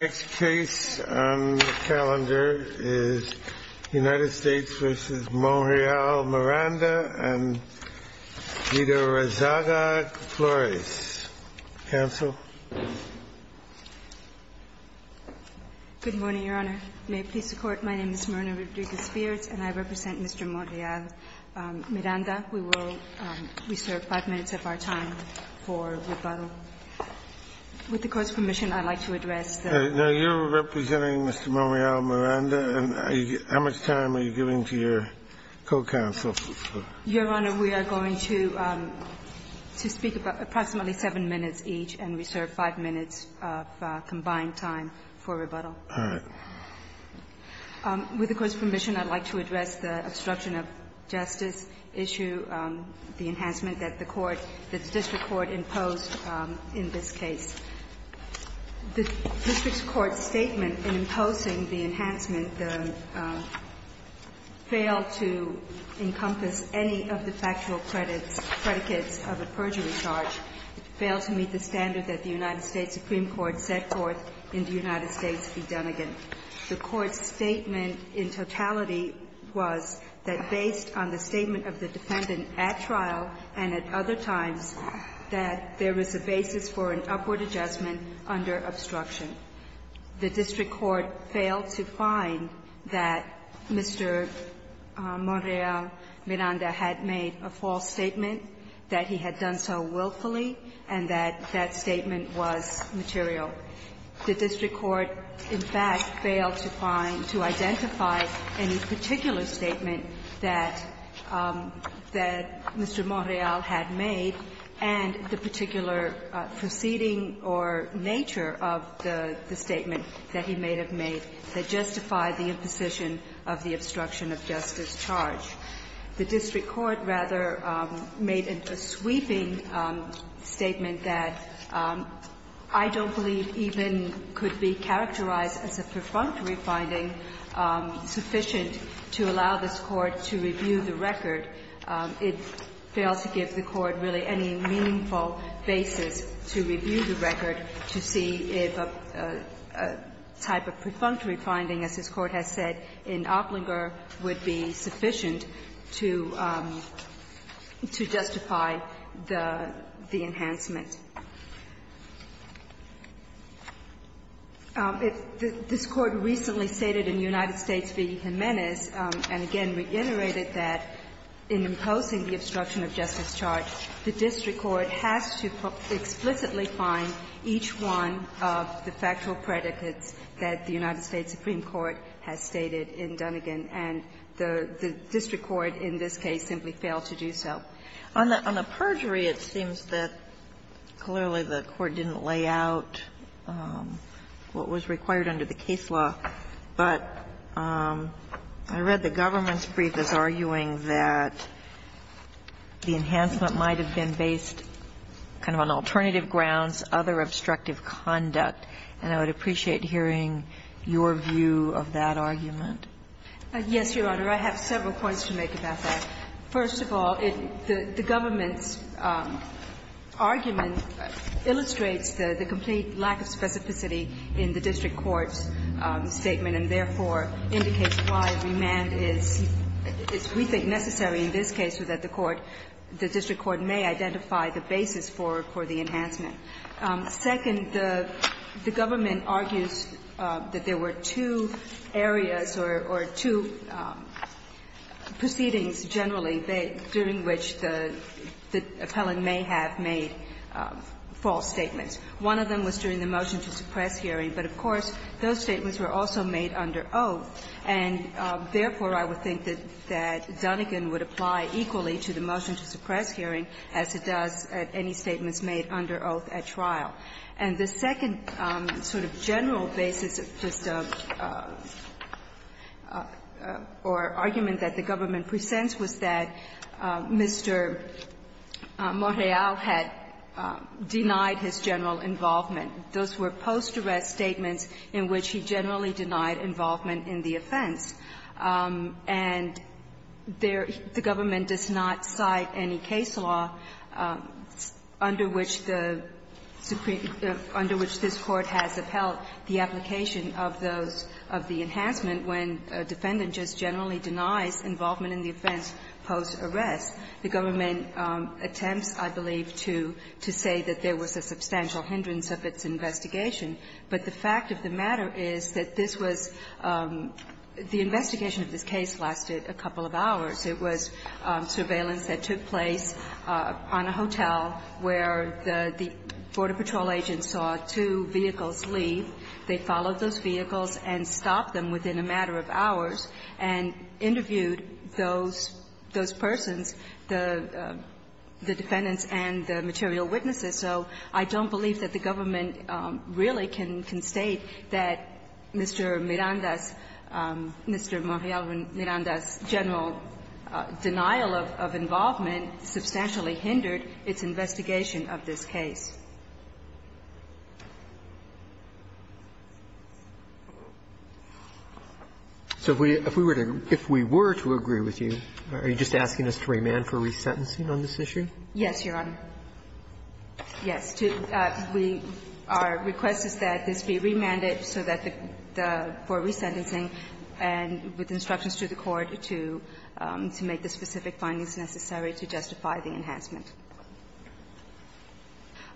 Next case on the calendar is United States v. Monreal-Miranda and Guido Rezaga-Flores. Counsel. Good morning, Your Honor. May it please the Court, my name is Myrna Rodriguez-Spears and I represent Mr. Monreal-Miranda. We will reserve five minutes of our time for rebuttal. With the Court's permission, I'd like to address the issue of the enhancement that the court, that the district court imposed on Guido Rezaga-Flores. In this case, the district court's statement in imposing the enhancement failed to encompass any of the factual credits, predicates of a perjury charge, failed to meet the standard that the United States Supreme Court set forth in the United States v. Dunnegan. The court's statement in totality was that based on the statement of the defendant at trial and at other times, that there was a basis for an upward adjustment under obstruction. The district court failed to find that Mr. Monreal-Miranda had made a false statement, that he had done so willfully, and that that statement was material. The district court, in fact, failed to find, to identify any particular statement that Mr. Monreal had made and the particular proceeding or nature of the statement that he may have made that justified the imposition of the obstruction of justice charge. The district court, rather, made a sweeping statement that I don't believe even could be characterized as a perfunctory finding sufficient to allow this Court to review the record. It failed to give the Court really any meaningful basis to review the record to see if a type of perfunctory finding, as this Court has said in Opplinger, would be sufficient to justify the enhancement. This Court recently stated in United States v. Jimenez, and again reiterated that in imposing the obstruction of justice charge, the district court has to explicitly find each one of the factual predicates that the United States Supreme Court has stated in Dunnegan, and the district court in this case simply failed to do so. On the perjury, it seems that clearly the Court didn't lay out what was required under the case law, but I read the government's brief as arguing that the enhancement might have been based kind of on alternative grounds, other obstructive conduct. And I would appreciate hearing your view of that argument. Yes, Your Honor. I have several points to make about that. First of all, the government's argument illustrates the complete lack of specificity in the district court's statement and therefore indicates why remand is, we think, necessary in this case so that the court, the district court may identify the basis for the enhancement. Second, the government argues that there were two areas or two proceedings generally during which the appellant may have made false statements. One of them was during the motion to suppress hearing, but of course, those statements were also made under oath, and therefore, I would think that Dunnegan would apply equally to the motion to suppress hearing as it does at any statements made under oath at trial. And the second sort of general basis of just a or argument that the government presents was that Mr. Morreale had denied his general involvement. Those were post-arrest statements in which he generally denied involvement in the offense, and there the government does not cite any case law under which the Supreme under which this Court has upheld the application of those, of the enhancement when a defendant just generally denies involvement in the offense post-arrest. The government attempts, I believe, to say that there was a substantial hindrance of its investigation, but the fact of the matter is that this was the investigation of this case lasted a couple of hours. It was surveillance that took place on a hotel where the border patrol agent saw two vehicles leave. They followed those vehicles and stopped them within a matter of hours and interviewed those persons, the defendants and the material witnesses. So I don't believe that the government really can state that Mr. Miranda's, Mr. Morreale Miranda's general denial of involvement substantially hindered its investigation of this case. Roberts, so if we were to agree with you, are you just asking us to remand for resentencing on this issue? Yes, Your Honor. Yes, our request is that this be remanded so that the resentencing and with instructions to the court to make the specific findings necessary to justify the enhancement.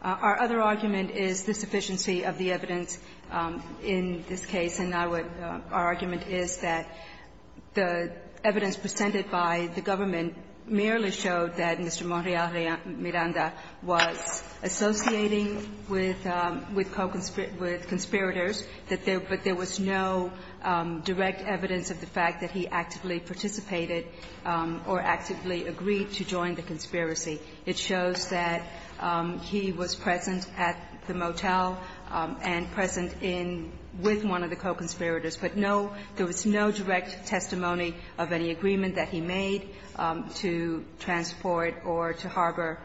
Our other argument is the sufficiency of the evidence in this case, and our argument is that the evidence presented by the government merely showed that Mr. Morreale Miranda was associating with co-conspirators, but there was no direct evidence of the fact that he actively participated or actively agreed to join the conspiracy. It shows that he was present at the motel and present in with one of the co-conspirators, but no – there was no direct testimony of any agreement that he made to transport or to harbor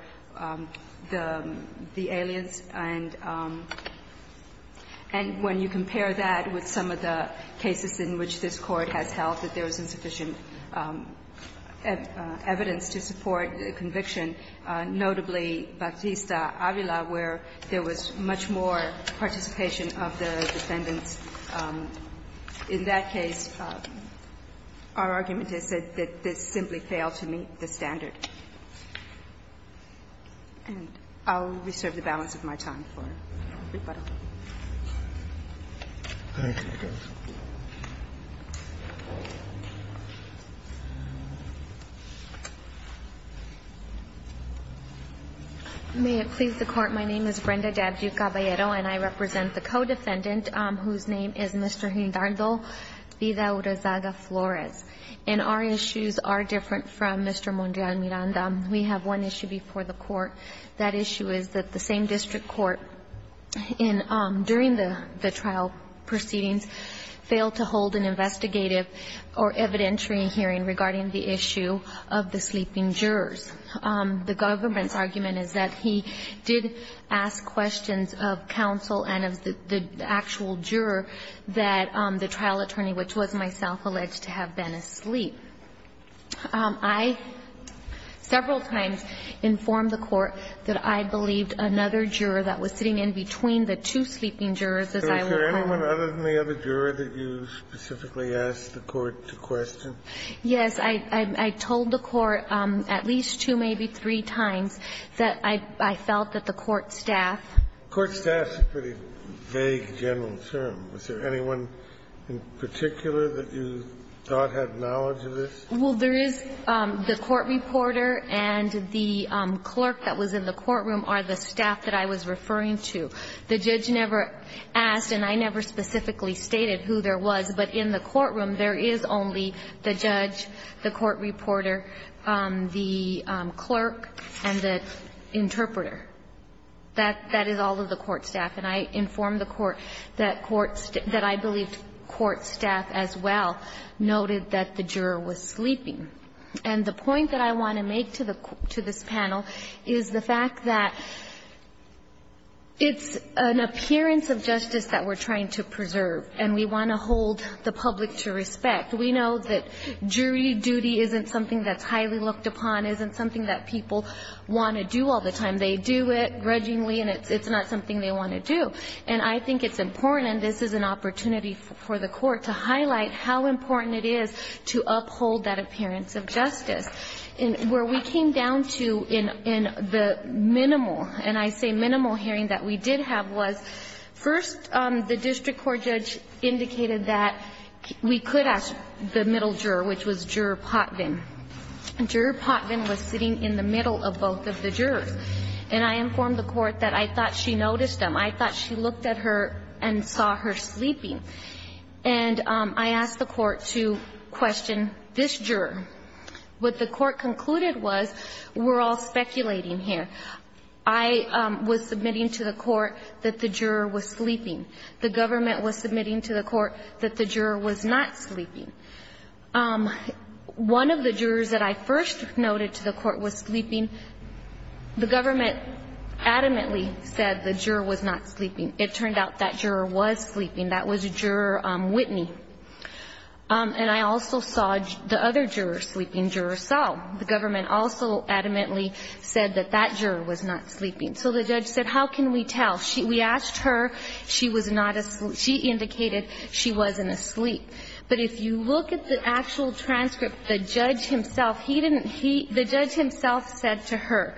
the aliens, and when you compare that with some of the cases in which this Court has held that there was insufficient evidence to support the conviction, notably Batista Avila, where there was much more participation of the defendants. In that case, our argument is that this simply failed to meet the standard. And I'll reserve the balance of my time for everybody. Thank you, Your Honor. May it please the Court. My name is Brenda Dabdue Caballero, and I represent the co-defendant, whose name is Mr. Hidalgo Vida Urazaga Flores. And our issues are different from Mr. Morreale Miranda. We have one issue before the Court. That issue is that the same district court in – during the trial proceedings failed to hold an investigative or evidentiary hearing regarding the issue of the sleeping jurors. The government's argument is that he did ask questions of counsel and of the actual juror that the trial attorney, which was myself, alleged to have been asleep. I, several times, informed the Court that I believed another juror that was sitting in between the two sleeping jurors, as I will point out. So is there anyone other than the other juror that you specifically asked the Court to question? Yes. I told the Court at least two, maybe three times, that I felt that the court staff Court staff is a pretty vague general term. Was there anyone in particular that you thought had knowledge of this? Well, there is the court reporter and the clerk that was in the courtroom are the staff that I was referring to. The judge never asked, and I never specifically stated who there was, but in the courtroom, there is only the judge, the court reporter, the clerk, and the interpreter. That is all of the court staff. And I informed the Court that court staff, that I believed court staff as well noted that the juror was sleeping. And the point that I want to make to the court, to this panel, is the fact that it's an appearance of justice that we're trying to preserve, and we want to hold the public to respect. We know that jury duty isn't something that's highly looked upon, isn't something that people want to do all the time. And they do it grudgingly, and it's not something they want to do. And I think it's important, and this is an opportunity for the court to highlight how important it is to uphold that appearance of justice. Where we came down to in the minimal, and I say minimal hearing that we did have was first, the district court judge indicated that we could ask the middle juror, which was Juror Potvin. Juror Potvin was sitting in the middle of both of the jurors. And I informed the court that I thought she noticed them. I thought she looked at her and saw her sleeping. And I asked the court to question this juror. What the court concluded was, we're all speculating here. I was submitting to the court that the juror was sleeping. The government was submitting to the court that the juror was not sleeping. One of the jurors that I first noted to the court was sleeping. The government adamantly said the juror was not sleeping. It turned out that juror was sleeping. That was Juror Whitney. And I also saw the other juror sleeping, Juror Saul. The government also adamantly said that that juror was not sleeping. So the judge said, how can we tell? We asked her, she indicated she wasn't asleep. But if you look at the actual transcript, the judge himself, he didn't, he, the judge himself said to her,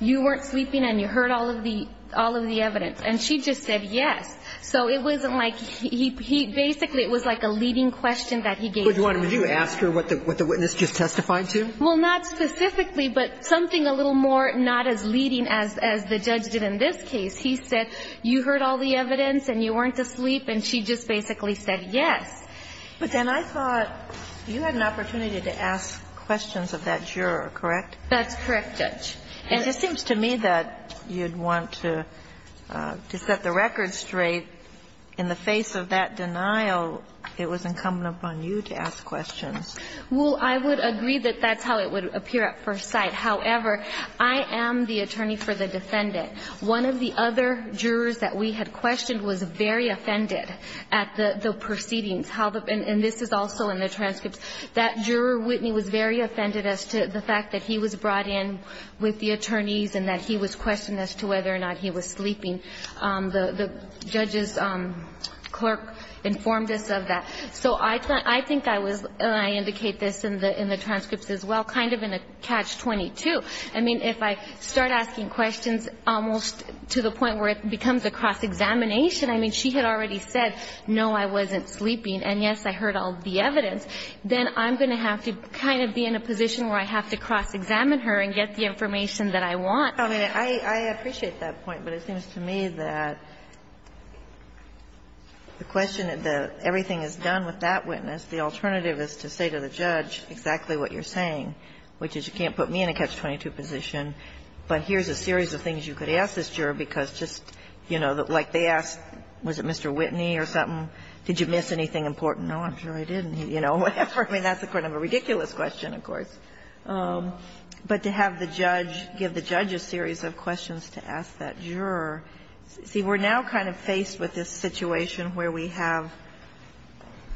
you weren't sleeping and you heard all of the, all of the evidence, and she just said yes. So it wasn't like, he, he, basically, it was like a leading question that he gave. Would you ask her what the, what the witness just testified to? Well, not specifically, but something a little more not as leading as, as the judge did in this case. He said, you heard all the evidence, and you weren't asleep, and she just basically said yes. But then I thought you had an opportunity to ask questions of that juror, correct? That's correct, Judge. And it seems to me that you'd want to, to set the record straight. In the face of that denial, it was incumbent upon you to ask questions. Well, I would agree that that's how it would appear at first sight. However, I am the attorney for the defendant. One of the other jurors that we had questioned was very offended at the, the proceedings. How the, and this is also in the transcripts, that juror, Whitney, was very offended as to the fact that he was brought in with the attorneys, and that he was questioned as to whether or not he was sleeping. The, the judge's clerk informed us of that. So I, I think I was, and I indicate this in the, in the transcripts as well, kind of in a catch-22. I mean, if I start asking questions almost to the point where it becomes a cross-examination, I mean, she had already said, no, I wasn't sleeping, and yes, I heard all the evidence. Then I'm going to have to kind of be in a position where I have to cross-examine her and get the information that I want. I mean, I, I appreciate that point, but it seems to me that the question, that everything is done with that witness, the alternative is to say to the judge exactly what you're going to do in a catch-22 position, but here's a series of things you could ask this juror, because just, you know, like they asked, was it Mr. Whitney or something? Did you miss anything important? No, I'm sure I didn't. You know, whatever. I mean, that's a kind of a ridiculous question, of course. But to have the judge give the judge a series of questions to ask that juror, see, we're now kind of faced with this situation where we have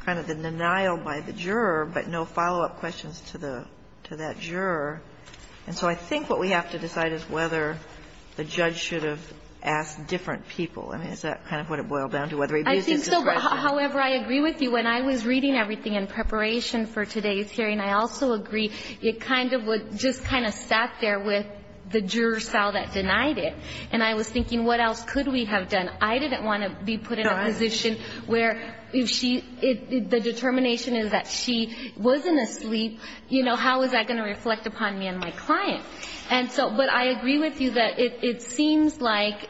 kind of the denial by the jury, and so I think what we have to decide is whether the judge should have asked different people. I mean, is that kind of what it boiled down to, whether he abused his discretion? I think so. However, I agree with you. When I was reading everything in preparation for today's hearing, I also agree it kind of would just kind of sat there with the juror, Sal, that denied it. And I was thinking, what else could we have done? I didn't want to be put in a position where if she – the determination is that she wasn't asleep, you know, how is that going to reflect upon me and my client? And so – but I agree with you that it seems like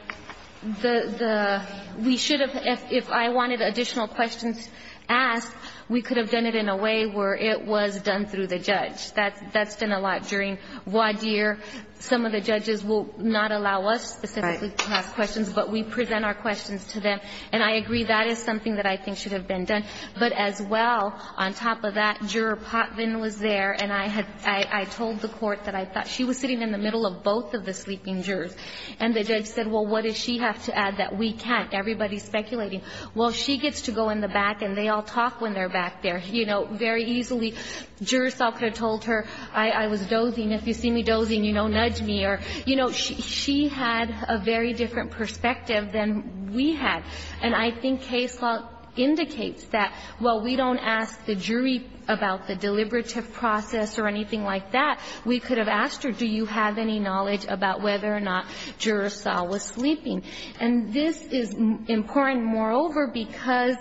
the – we should have – if I wanted additional questions asked, we could have done it in a way where it was done through the judge. That's done a lot during voir dire. Some of the judges will not allow us specifically to ask questions, but we present our questions to them. And I agree that is something that I think should have been done. But as well, on top of that, Juror Potvin was there, and I had – I told the Court that I thought she was sitting in the middle of both of the sleeping jurors. And the judge said, well, what does she have to add that we can't? Everybody's speculating. Well, she gets to go in the back, and they all talk when they're back there, you know, very easily. Juror Salker told her, I was dozing. If you see me dozing, you know, nudge me. You know, she had a very different perspective than we had. And I think case law indicates that while we don't ask the jury about the deliberative process or anything like that, we could have asked her, do you have any knowledge about whether or not Juror Salker was sleeping. And this is important, moreover, because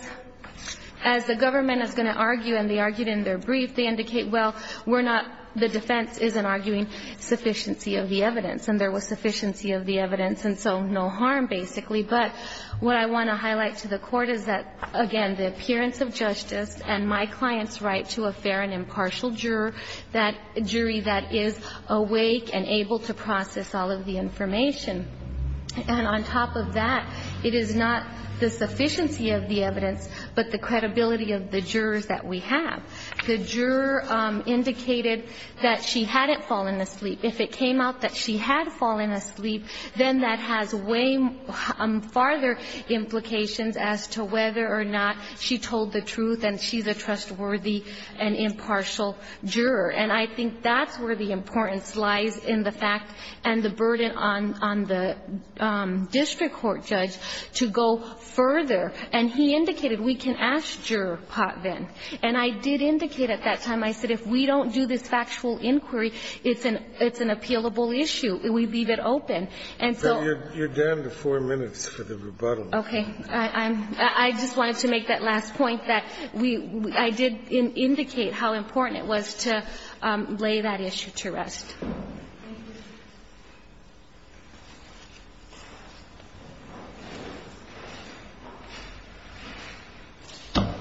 as the government is going to argue, and they argued in their brief, they indicate, well, we're not – the defense isn't arguing sufficiency of the evidence. And there was sufficiency of the evidence, and so no harm, basically. But what I want to highlight to the Court is that, again, the appearance of justice and my client's right to a fair and impartial jury that is awake and able to process all of the information. And on top of that, it is not the sufficiency of the evidence, but the credibility of the jurors that we have. The juror indicated that she hadn't fallen asleep. If it came out that she had fallen asleep, then that has way farther implications as to whether or not she told the truth and she's a trustworthy and impartial juror. And I think that's where the importance lies in the fact and the burden on the district court judge to go further. And he indicated we can ask Juror Potvin. And I did indicate at that time, I said if we don't do this factual inquiry, it's an appealable issue. We leave it open. And so you're down to four minutes for the rebuttal. Okay. I just wanted to make that last point that I did indicate how important it was to lay that issue to rest. Thank you.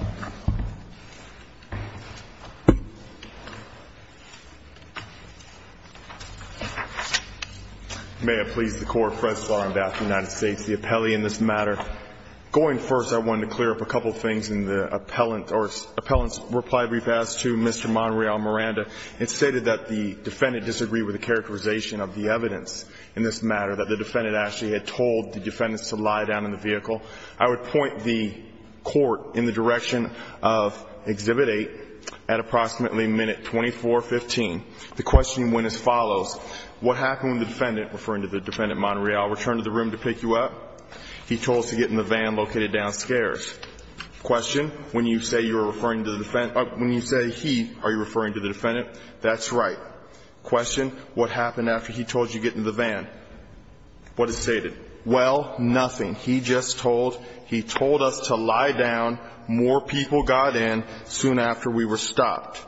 May it please the Court, first law in the United States, the appellee in this matter Going first, I wanted to clear up a couple of things in the appellant's reply brief as to Mr. Monreal Miranda. It stated that the defendant disagreed with the characterization of the evidence in this matter, that the defendant actually had told the defendants to lie down in the vehicle. I would point the court in the direction of Exhibit 8 at approximately minute 2415. The questioning went as follows. What happened when the defendant, referring to the defendant Monreal, returned to the room to pick you up? He told us to get in the van located downstairs. Question, when you say you're referring to the defendant, when you say he, are you referring to the defendant? That's right. Question, what happened after he told you to get in the van? What is stated? Well, nothing. He just told, he told us to lie down. More people got in soon after we were stopped.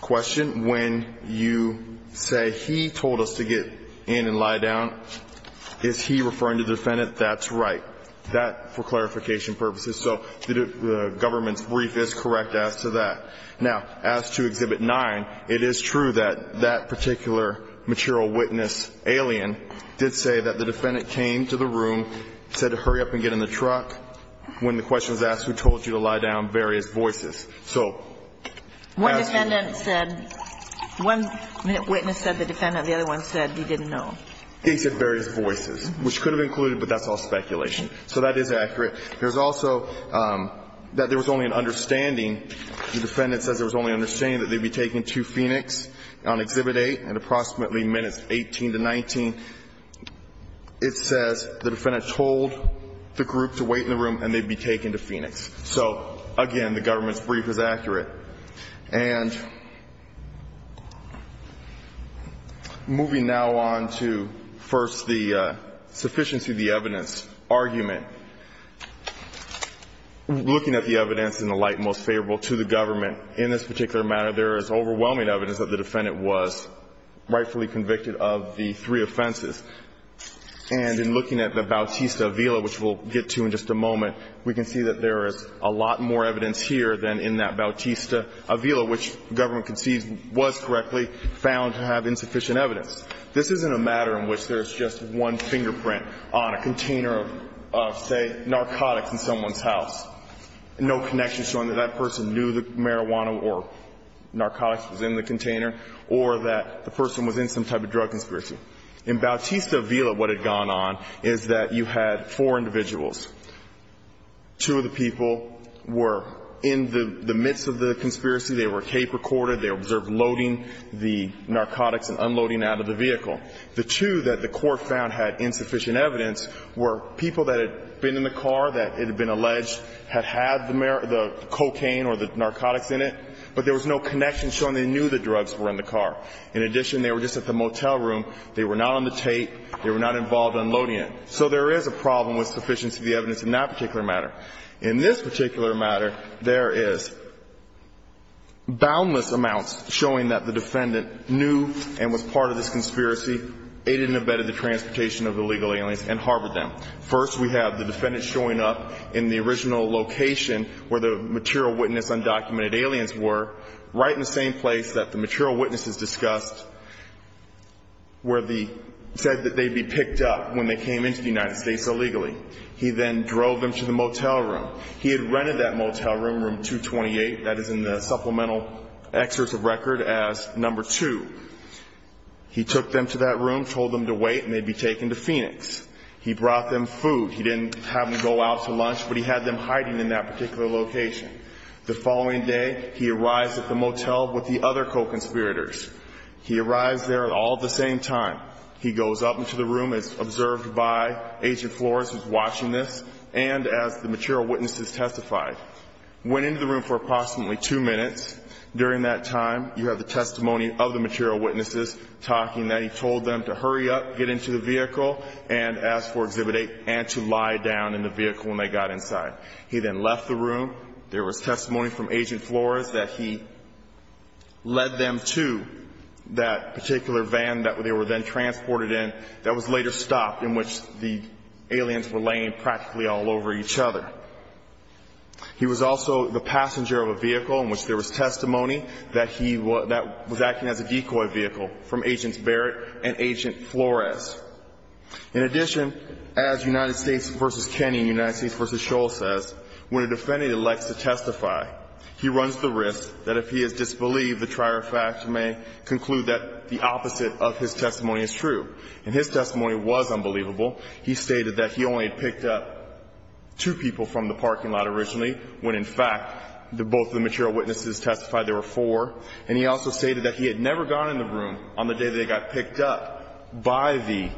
Question, when you say he told us to get in and lie down, is he referring to the defendant? That's right. That, for clarification purposes. So the government's brief is correct as to that. Now, as to Exhibit 9, it is true that that particular material witness, alien, did say that the defendant came to the room, said to hurry up and get in the truck, when the question was asked, who told you to lie down, various voices. So. One defendant said, one witness said the defendant, the other one said he didn't know. He said various voices, which could have included, but that's all speculation. So that is accurate. There's also that there was only an understanding, the defendant says there was only understanding that they'd be taken to Phoenix on Exhibit 8 at approximately minutes 18 to 19. It says the defendant told the group to wait in the room and they'd be taken to Phoenix. So again, the government's brief is accurate. And moving now on to first the sufficiency of the evidence argument. Looking at the evidence in the light most favorable to the government in this particular matter, there is overwhelming evidence that the defendant was rightfully convicted of the three offenses. And in looking at the Bautista Villa, which we'll get to in just a moment, we can see that there is a lot more evidence here than in that Bautista Villa, which the government conceived was correctly found to have insufficient evidence. This isn't a matter in which there's just one fingerprint on a container of, say, narcotics in someone's house. No connection showing that that person knew the marijuana or narcotics was in the container or that the person was in some type of drug conspiracy. In Bautista Villa, what had gone on is that you had four individuals, two of the people were in the midst of the conspiracy. They were tape recorded. They observed loading the narcotics and unloading out of the vehicle. The two that the court found had insufficient evidence were people that had been in the car that had been alleged had had the cocaine or the narcotics in it, but there was no connection showing they knew the drugs were in the car. In addition, they were just at the motel room. They were not on the tape. They were not involved unloading it. So there is a problem with sufficiency of the evidence in that particular matter. In this particular matter, there is boundless amounts showing that the defendant knew and was part of this conspiracy, aided and abetted the transportation of illegal aliens and harbored them. First, we have the defendant showing up in the original location where the material witness undocumented aliens were, right in the same place that the material witnesses discussed where the said that they'd be picked up when they came into the United States illegally. He then drove them to the motel room. He had rented that motel room, room 228, that is in the supplemental excerpt of record as number two. He took them to that room, told them to wait, and they'd be taken to Phoenix. He brought them food. He didn't have them go out to lunch, but he had them hiding in that particular location. The following day, he arrives at the motel with the other co-conspirators. He arrives there all at the same time. He goes up into the room as observed by Agent Flores, who's watching this, and as the material witnesses testified. Went into the room for approximately two minutes. During that time, you have the testimony of the material witnesses talking that he told them to hurry up, get into the vehicle, and ask for Exhibit A, and to lie down in the vehicle when they got inside. He then left the room. There was testimony from Agent Flores that he led them to that particular van that they were then transported in that was later stopped, in which the aliens were laying practically all over each other. He was also the passenger of a vehicle in which there was testimony that he was acting as a decoy vehicle from Agents Barrett and Agent Flores. In addition, as United States v. Kenney and United States v. Scholl says, when a defendant elects to testify, he runs the risk that if he is true. And his testimony was unbelievable. He stated that he only picked up two people from the parking lot originally, when, in fact, both the material witnesses testified there were four. And he also stated that he had never gone in the room on the day that he got picked up by the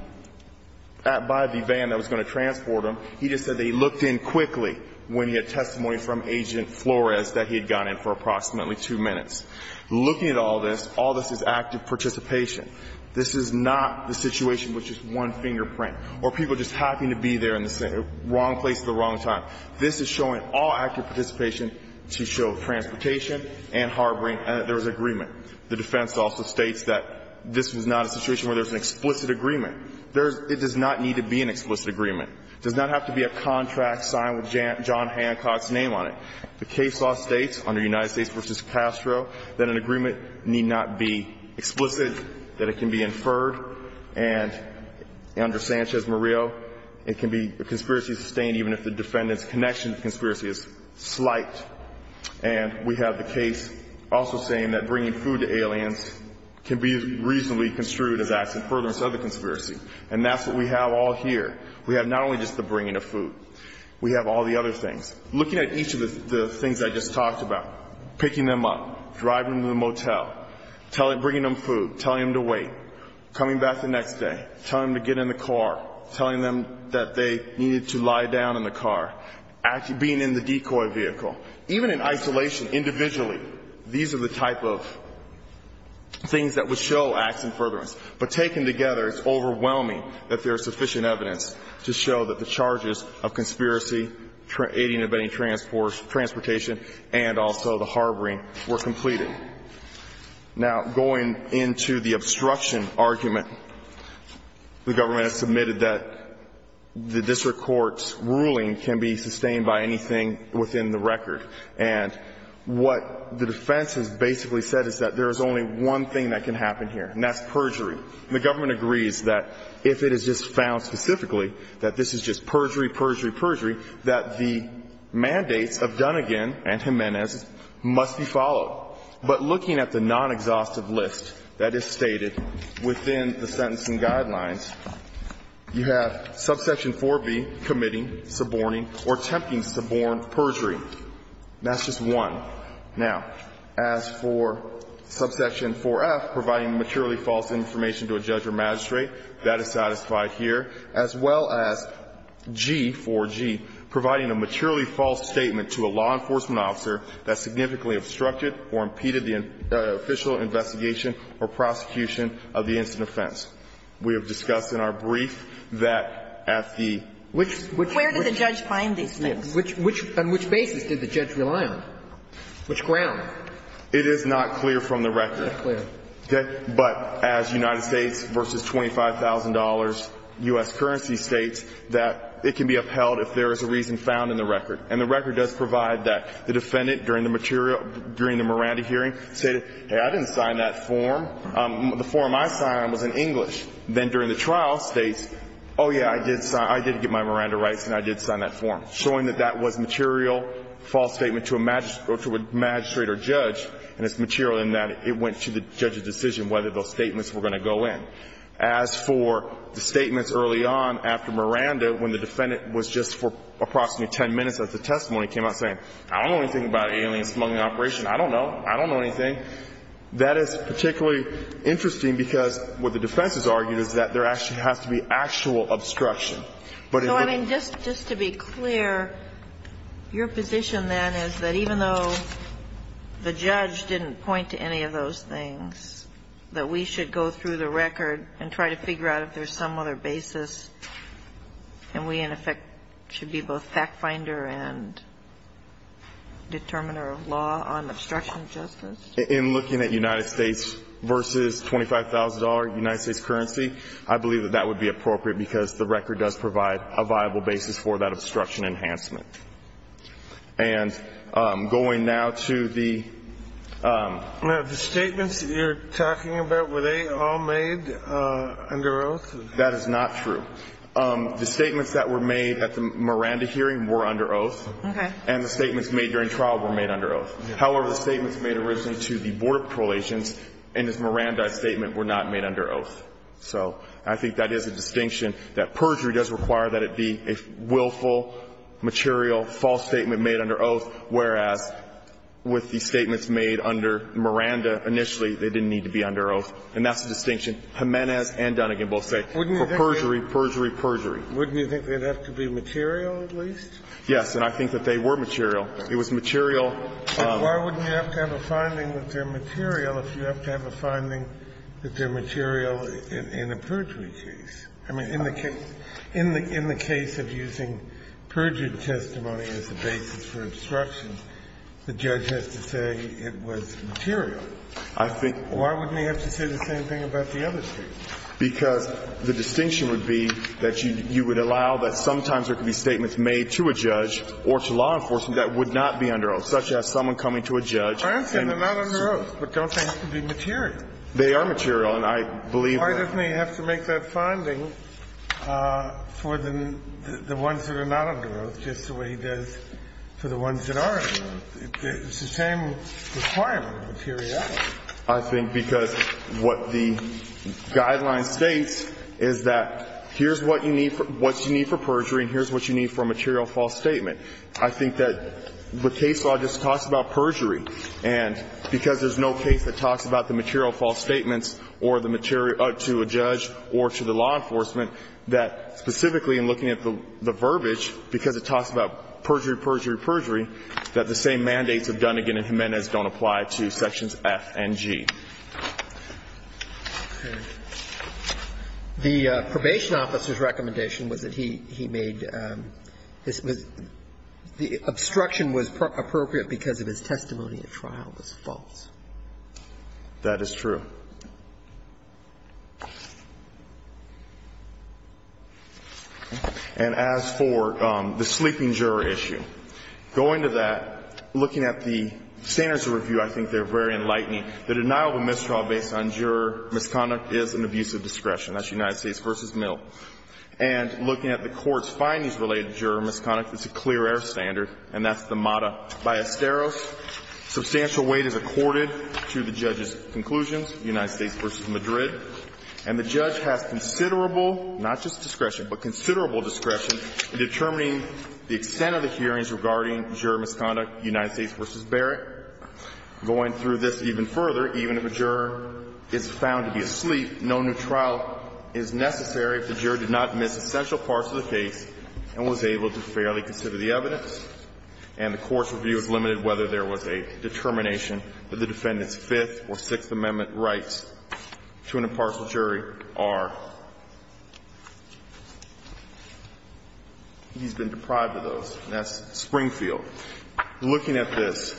van that was going to transport him. He just said that he looked in quickly when he had testimony from Agent Flores that he had gone in for approximately two minutes. Looking at all this, all this is active participation. This is not the situation with just one fingerprint or people just happy to be there in the wrong place at the wrong time. This is showing all active participation to show transportation and harboring that there was agreement. The defense also states that this was not a situation where there's an explicit agreement. There's it does not need to be an explicit agreement. Does not have to be a contract signed with John Hancock's name on it. The case law states under United States v. that it can be inferred. And under Sanchez Murillo, it can be a conspiracy sustained even if the defendant's connection to conspiracy is slight. And we have the case also saying that bringing food to aliens can be reasonably construed as acts of furtherance of the conspiracy. And that's what we have all here. We have not only just the bringing of food. We have all the other things. Looking at each of the things I just talked about, picking them up, driving them to the Coming back the next day, telling them to get in the car, telling them that they needed to lie down in the car, being in the decoy vehicle, even in isolation individually. These are the type of things that would show acts of furtherance. But taken together, it's overwhelming that there's sufficient evidence to show that the charges of conspiracy, aiding and abetting transportation, and also the harboring were completed. Now, going into the obstruction argument, the government has submitted that the district court's ruling can be sustained by anything within the record. And what the defense has basically said is that there is only one thing that can happen here, and that's perjury. The government agrees that if it is just found specifically that this is just perjury, perjury, perjury, that the mandates of Dunnegan and Jimenez must be But looking at the non-exhaustive list that is stated within the sentencing guidelines, you have subsection 4B, committing, suborning, or attempting suborn perjury. That's just one. Now, as for subsection 4F, providing materially false information to a judge or magistrate, that is satisfied here, as well as G, 4G, providing a materially false statement to a law enforcement officer that significantly obstructed or impeded the official investigation or prosecution of the incident offense. We have discussed in our brief that at the Which Where did the judge find these things? On which basis did the judge rely on? Which ground? It is not clear from the record. It's not clear. But as United States versus $25,000 U.S. currency states, that it can be upheld if there is a reason found in the record. And the record does provide that. The defendant, during the material, during the Miranda hearing, said, hey, I didn't sign that form. The form I signed was in English. Then during the trial states, oh, yeah, I did get my Miranda rights, and I did sign that form, showing that that was material false statement to a magistrate or judge, and it's material in that it went to the judge's decision whether those statements were going to go in. As for the statements early on after Miranda, when the defendant was just for approximately 10 minutes at the testimony, came out saying, I don't know anything about alien smuggling operation. I don't know. I don't know anything. That is particularly interesting because what the defense has argued is that there actually has to be actual obstruction. But in the So, I mean, just to be clear, your position then is that even though the judge didn't point to any of those things, that we should go through the record and try to figure out if there's some other basis, and we, in effect, should be both fact finder and determiner of law on obstruction of justice? In looking at United States versus $25,000 United States currency, I believe that that would be appropriate because the record does provide a viable basis for that obstruction enhancement. And going now to the The statements that you're talking about, were they all made under oath? That is not true. The statements that were made at the Miranda hearing were under oath. Okay. And the statements made during trial were made under oath. However, the statements made originally to the Board of Prolations in this Miranda statement were not made under oath. So I think that is a distinction that perjury does require that it be a willful, material, false statement made under oath, whereas with the statements made under Miranda initially, they didn't need to be under oath. And that's the distinction Jimenez and Dunnegan both say. For perjury, perjury, perjury. Wouldn't you think they'd have to be material, at least? Yes. And I think that they were material. It was material. Why wouldn't you have to have a finding that they're material if you have to have a finding that they're material in a perjury case? I mean, in the case of using perjury testimony as the basis for obstruction, the judge has to say it was material. I think why wouldn't he have to say the same thing about the other statements? Because the distinction would be that you would allow that sometimes there could be statements made to a judge or to law enforcement that would not be under oath, such as someone coming to a judge and they're not under oath, but don't they have to be material? They are material. Why doesn't he have to make that finding for the ones that are not under oath, just the way he does for the ones that are under oath? It's the same requirement of materiality. I think because what the guideline states is that here's what you need for perjury and here's what you need for a material false statement. I think that the case law just talks about perjury, and because there's no case that is not under oath, it doesn't apply to sections F and G, or to a judge or to the law enforcement, that specifically in looking at the verbiage, because it talks about perjury, perjury, perjury, that the same mandates of Dunnegan and Jimenez don't apply to sections F and G. The probation officer's recommendation was that he made his – the obstruction was appropriate because of his testimony at trial was false. That is true. And as for the sleeping juror issue, going to that, looking at the standards of review, I think they're very enlightening. The denial of a misdraw based on juror misconduct is an abuse of discretion. That's United States v. Mill. And looking at the court's findings related to juror misconduct, it's a clear-air standard, and that's the MATA. By Asteros, substantial weight is accorded to the judge's conclusions, United States v. Madrid. And the judge has considerable, not just discretion, but considerable discretion in determining the extent of the hearings regarding juror misconduct, United States v. Barrett. Going through this even further, even if a juror is found to be asleep, no new trial is necessary if the juror did not miss essential parts of the case and was able to fairly consider the evidence. And the court's review is limited whether there was a determination that the defendant's Fifth or Sixth Amendment rights to an impartial jury are. He's been deprived of those, and that's Springfield. Looking at this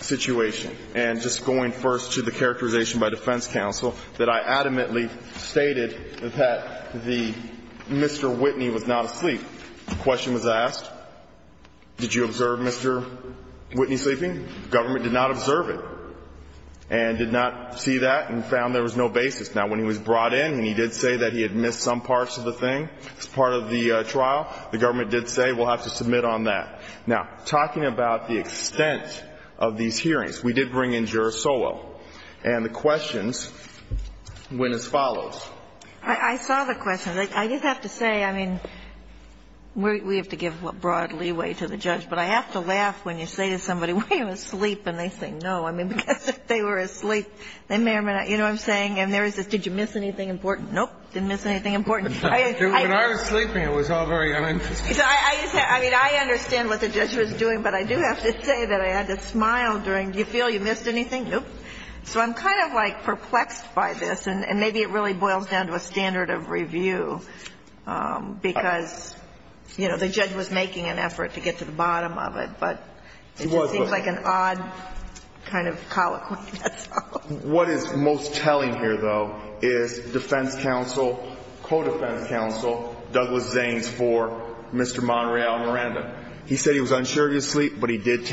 situation, and just going first to the characterization by defense counsel, that I adamantly stated that Mr. Whitney was not asleep. The question was asked, did you observe Mr. Whitney sleeping? Government did not observe it and did not see that and found there was no basis. Now, when he was brought in and he did say that he had missed some parts of the thing as part of the trial, the government did say, we'll have to submit on that. Now, talking about the extent of these hearings, we did bring in juror Solow, and the questions went as follows. I saw the questions. I just have to say, I mean, we have to give broad leeway to the judge, but I have to laugh when you say to somebody, were you asleep? And they say, no. I mean, because if they were asleep, they may or may not. You know what I'm saying? And there is this, did you miss anything important? Nope, didn't miss anything important. When I was sleeping, it was all very uninteresting. I mean, I understand what the judge was doing, but I do have to say that I had to smile during, do you feel you missed anything? Nope. So I'm kind of like perplexed by this, and maybe it really boils down to a standard of review, because, you know, the judge was making an effort to get to the bottom of it, but it just seems like an odd kind of colloquy, that's all. What is most telling here, though, is defense counsel, co-defense counsel, Douglas Zanes for Mr. Monreal Miranda. He said he was unsure of his sleep, but he did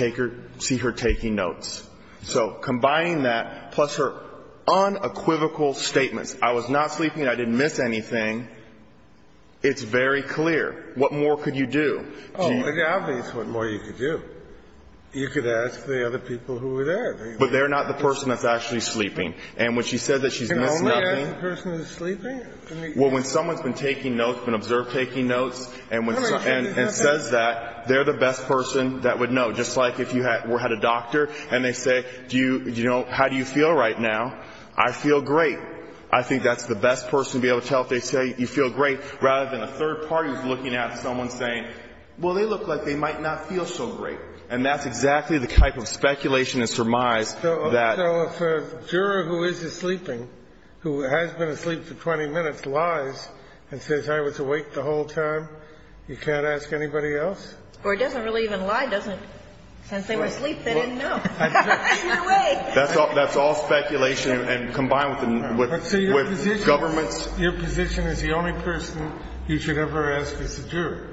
see her taking notes. So combining that, plus her unequivocal statements, I was not sleeping, I didn't miss anything, it's very clear. What more could you do? Oh, it's obvious what more you could do. You could ask the other people who were there. But they're not the person that's actually sleeping. And when she said that she's missed nothing. Can only ask the person who's sleeping? Well, when someone's been taking notes, been observed taking notes, and says that, they're the best person that would know. Just like if you had a doctor and they say, do you, you know, how do you feel right now? I feel great. I think that's the best person to be able to tell if they say you feel great, rather than a third party who's looking at someone saying, well, they look like they might not feel so great. And that's exactly the type of speculation and surmise that. So if a juror who is sleeping, who has been asleep for 20 minutes, lies and says I was awake the whole time, you can't ask anybody else? Or it doesn't really even lie, does it? Since they were asleep, they didn't know. That's all speculation and combined with governments. Your position is the only person you should ever ask is a juror.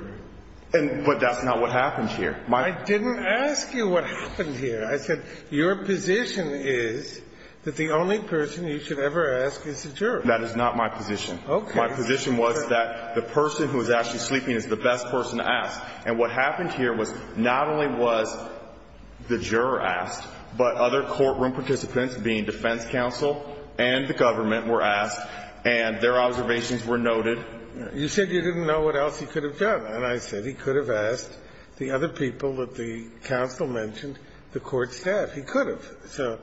But that's not what happened here. I didn't ask you what happened here. I said, your position is that the only person you should ever ask is a juror. That is not my position. My position was that the person who is actually sleeping is the best person to ask. And what happened here was not only was the juror asked, but other courtroom participants, being defense counsel and the government, were asked. And their observations were noted. You said you didn't know what else he could have done. And I said he could have asked the other people that the counsel mentioned, the court staff. He could have. So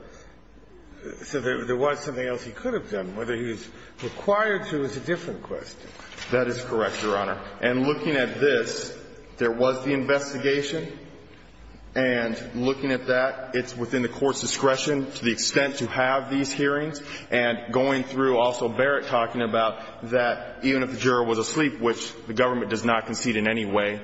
there was something else he could have done. Whether he was required to is a different question. That is correct, Your Honor. And looking at this, there was the investigation. And looking at that, it's within the court's discretion to the extent to have these hearings. And going through, also Barrett talking about that even if the juror was asleep, which the government does not concede in any way,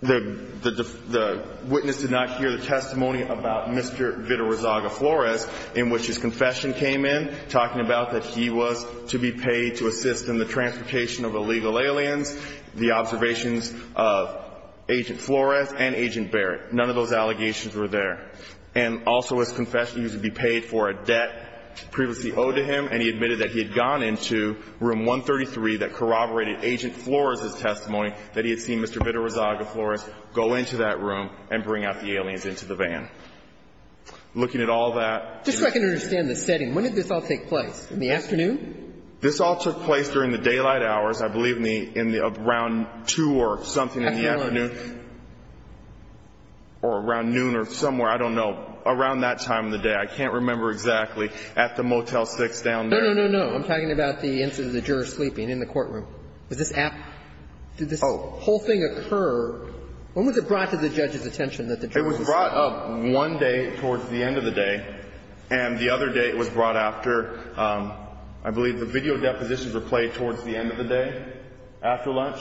the witness did not hear the testimony about Mr. Vitarazaga-Flores, in which his confession came in, talking about that he was to be paid to assist in the transportation of illegal aliens, the observations of Agent Flores and Agent Barrett. None of those allegations were there. And also his confession, he was to be paid for a debt previously owed to him. And he admitted that he had gone into room 133 that corroborated Agent Flores' testimony, that he had seen Mr. Vitarazaga-Flores go into that room and bring out the aliens into the van. Looking at all that. Just so I can understand the setting. When did this all take place? In the afternoon? This all took place during the daylight hours, I believe, in the around 2 or something in the afternoon. Afternoon. Or around noon or somewhere. I don't know. Around that time of the day. I can't remember exactly. At the Motel 6 down there. No, no, no, no. I'm talking about the incident of the juror sleeping in the courtroom. Was this after the whole thing occurred? When was it brought to the judge's attention that the juror was asleep? It was brought up one day towards the end of the day. And the other day it was brought after, I believe, the video depositions were played towards the end of the day, after lunch.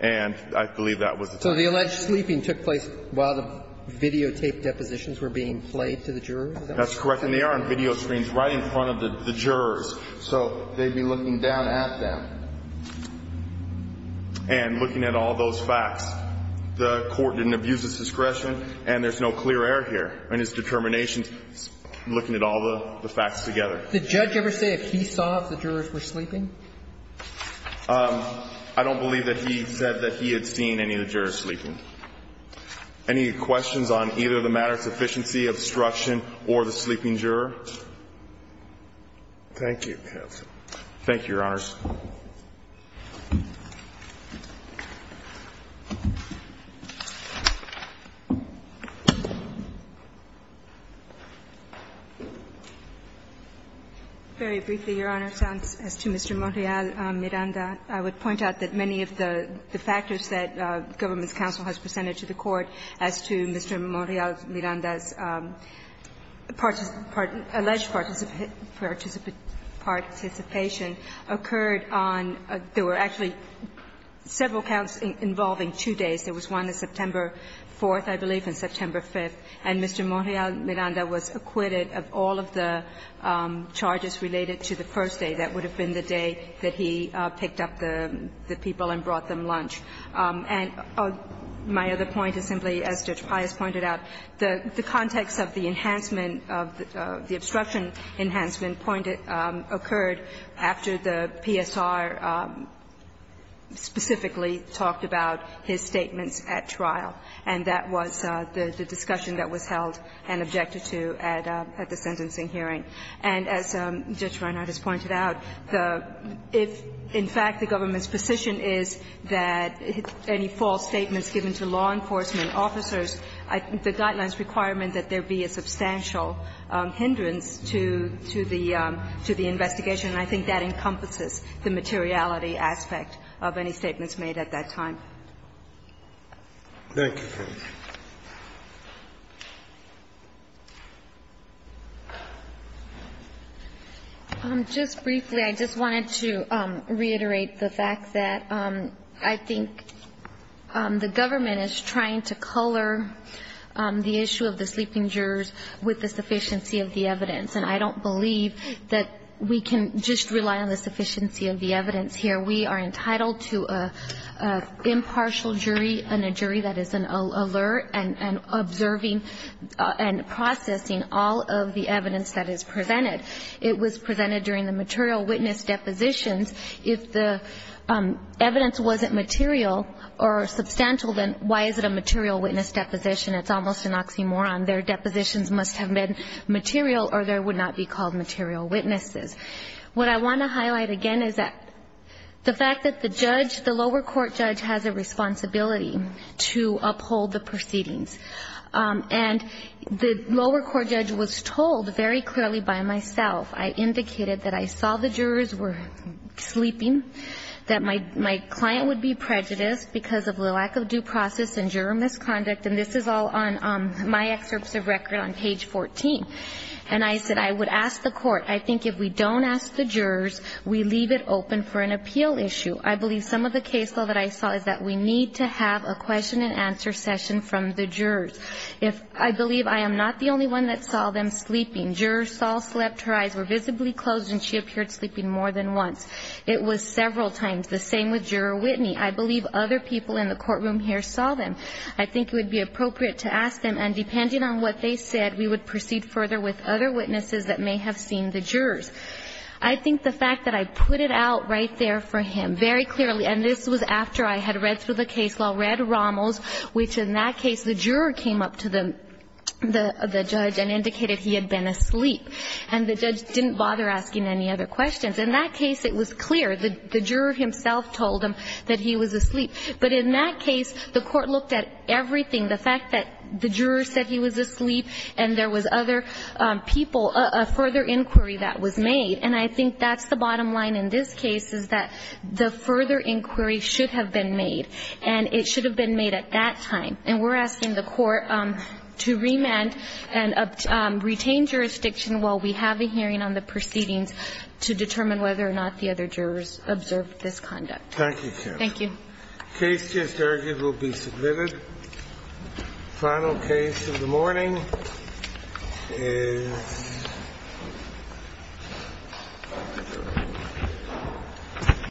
And I believe that was the time. So the alleged sleeping took place while the videotaped depositions were being played to the jurors? That's correct. And they are on video screens right in front of the jurors. So they'd be looking down at them. And looking at all those facts. The court didn't abuse its discretion. And there's no clear error here in its determination, looking at all the facts together. Did the judge ever say if he saw if the jurors were sleeping? I don't believe that he said that he had seen any of the jurors sleeping. Any questions on either the matter of sufficiency, obstruction, or the sleeping juror? Thank you, counsel. Thank you, Your Honors. Very briefly, Your Honor, as to Mr. Monreal-Miranda, I would point out that many of the factors that the government's counsel has presented to the court as to Mr. Monreal-Miranda's alleged participation occurred on there were actually several counts involving There was one on September 4th, I believe, and September 5th. And Mr. Monreal-Miranda was acquitted of all of the charges related to the first day. That would have been the day that he picked up the people and brought them lunch. And my other point is simply, as Judge Pius pointed out, the context of the enhancement of the obstruction enhancement point occurred after the PSR specifically talked about his statements at trial. And that was the discussion that was held and objected to at the sentencing hearing. And as Judge Reinhardt has pointed out, if, in fact, the government's position is that any false statements given to law enforcement officers, the guidelines requirement that there be a substantial hindrance to the investigation, and I think that encompasses the materiality aspect of any statements made at that time. Thank you. Just briefly, I just wanted to reiterate the fact that I think the government is trying to color the issue of the sleeping jurors with the sufficiency of the evidence. And I don't believe that we can just rely on the sufficiency of the evidence here. We are entitled to an impartial jury and a jury that is an alert and observing and processing all of the evidence that is presented. It was presented during the material witness depositions. If the evidence wasn't material or substantial, then why is it a material witness deposition? It's almost an oxymoron. Their depositions must have been material or they would not be called material witnesses. What I want to highlight again is that the fact that the judge, the lower court judge, has a responsibility to uphold the proceedings. And the lower court judge was told very clearly by myself, I indicated that I saw the jurors were sleeping, that my client would be prejudiced because of the lack of due process and juror misconduct. And this is all on my excerpts of record on page 14. And I said I would ask the court, I think if we don't ask the jurors, we leave it open for an appeal issue. I believe some of the case law that I saw is that we need to have a question and answer session from the jurors. If I believe I am not the only one that saw them sleeping. Juror Saul slept, her eyes were visibly closed and she appeared sleeping more than once. It was several times. The same with Juror Whitney. I believe other people in the courtroom here saw them. I think it would be appropriate to ask them. And depending on what they said, we would proceed further with other witnesses that may have seen the jurors. I think the fact that I put it out right there for him very clearly, and this was after I had read through the case law, read Rommel's, which in that case the juror came up to the judge and indicated he had been asleep. And the judge didn't bother asking any other questions. In that case, it was clear. The juror himself told him that he was asleep. But in that case, the Court looked at everything. The fact that the juror said he was asleep and there was other people, a further inquiry that was made. And I think that's the bottom line in this case, is that the further inquiry should have been made. And it should have been made at that time. And we're asking the Court to remand and retain jurisdiction while we have a hearing on the proceedings to determine whether or not the other jurors observed this conduct. Thank you. Thank you. The case, just argued, will be submitted. The final case of the morning is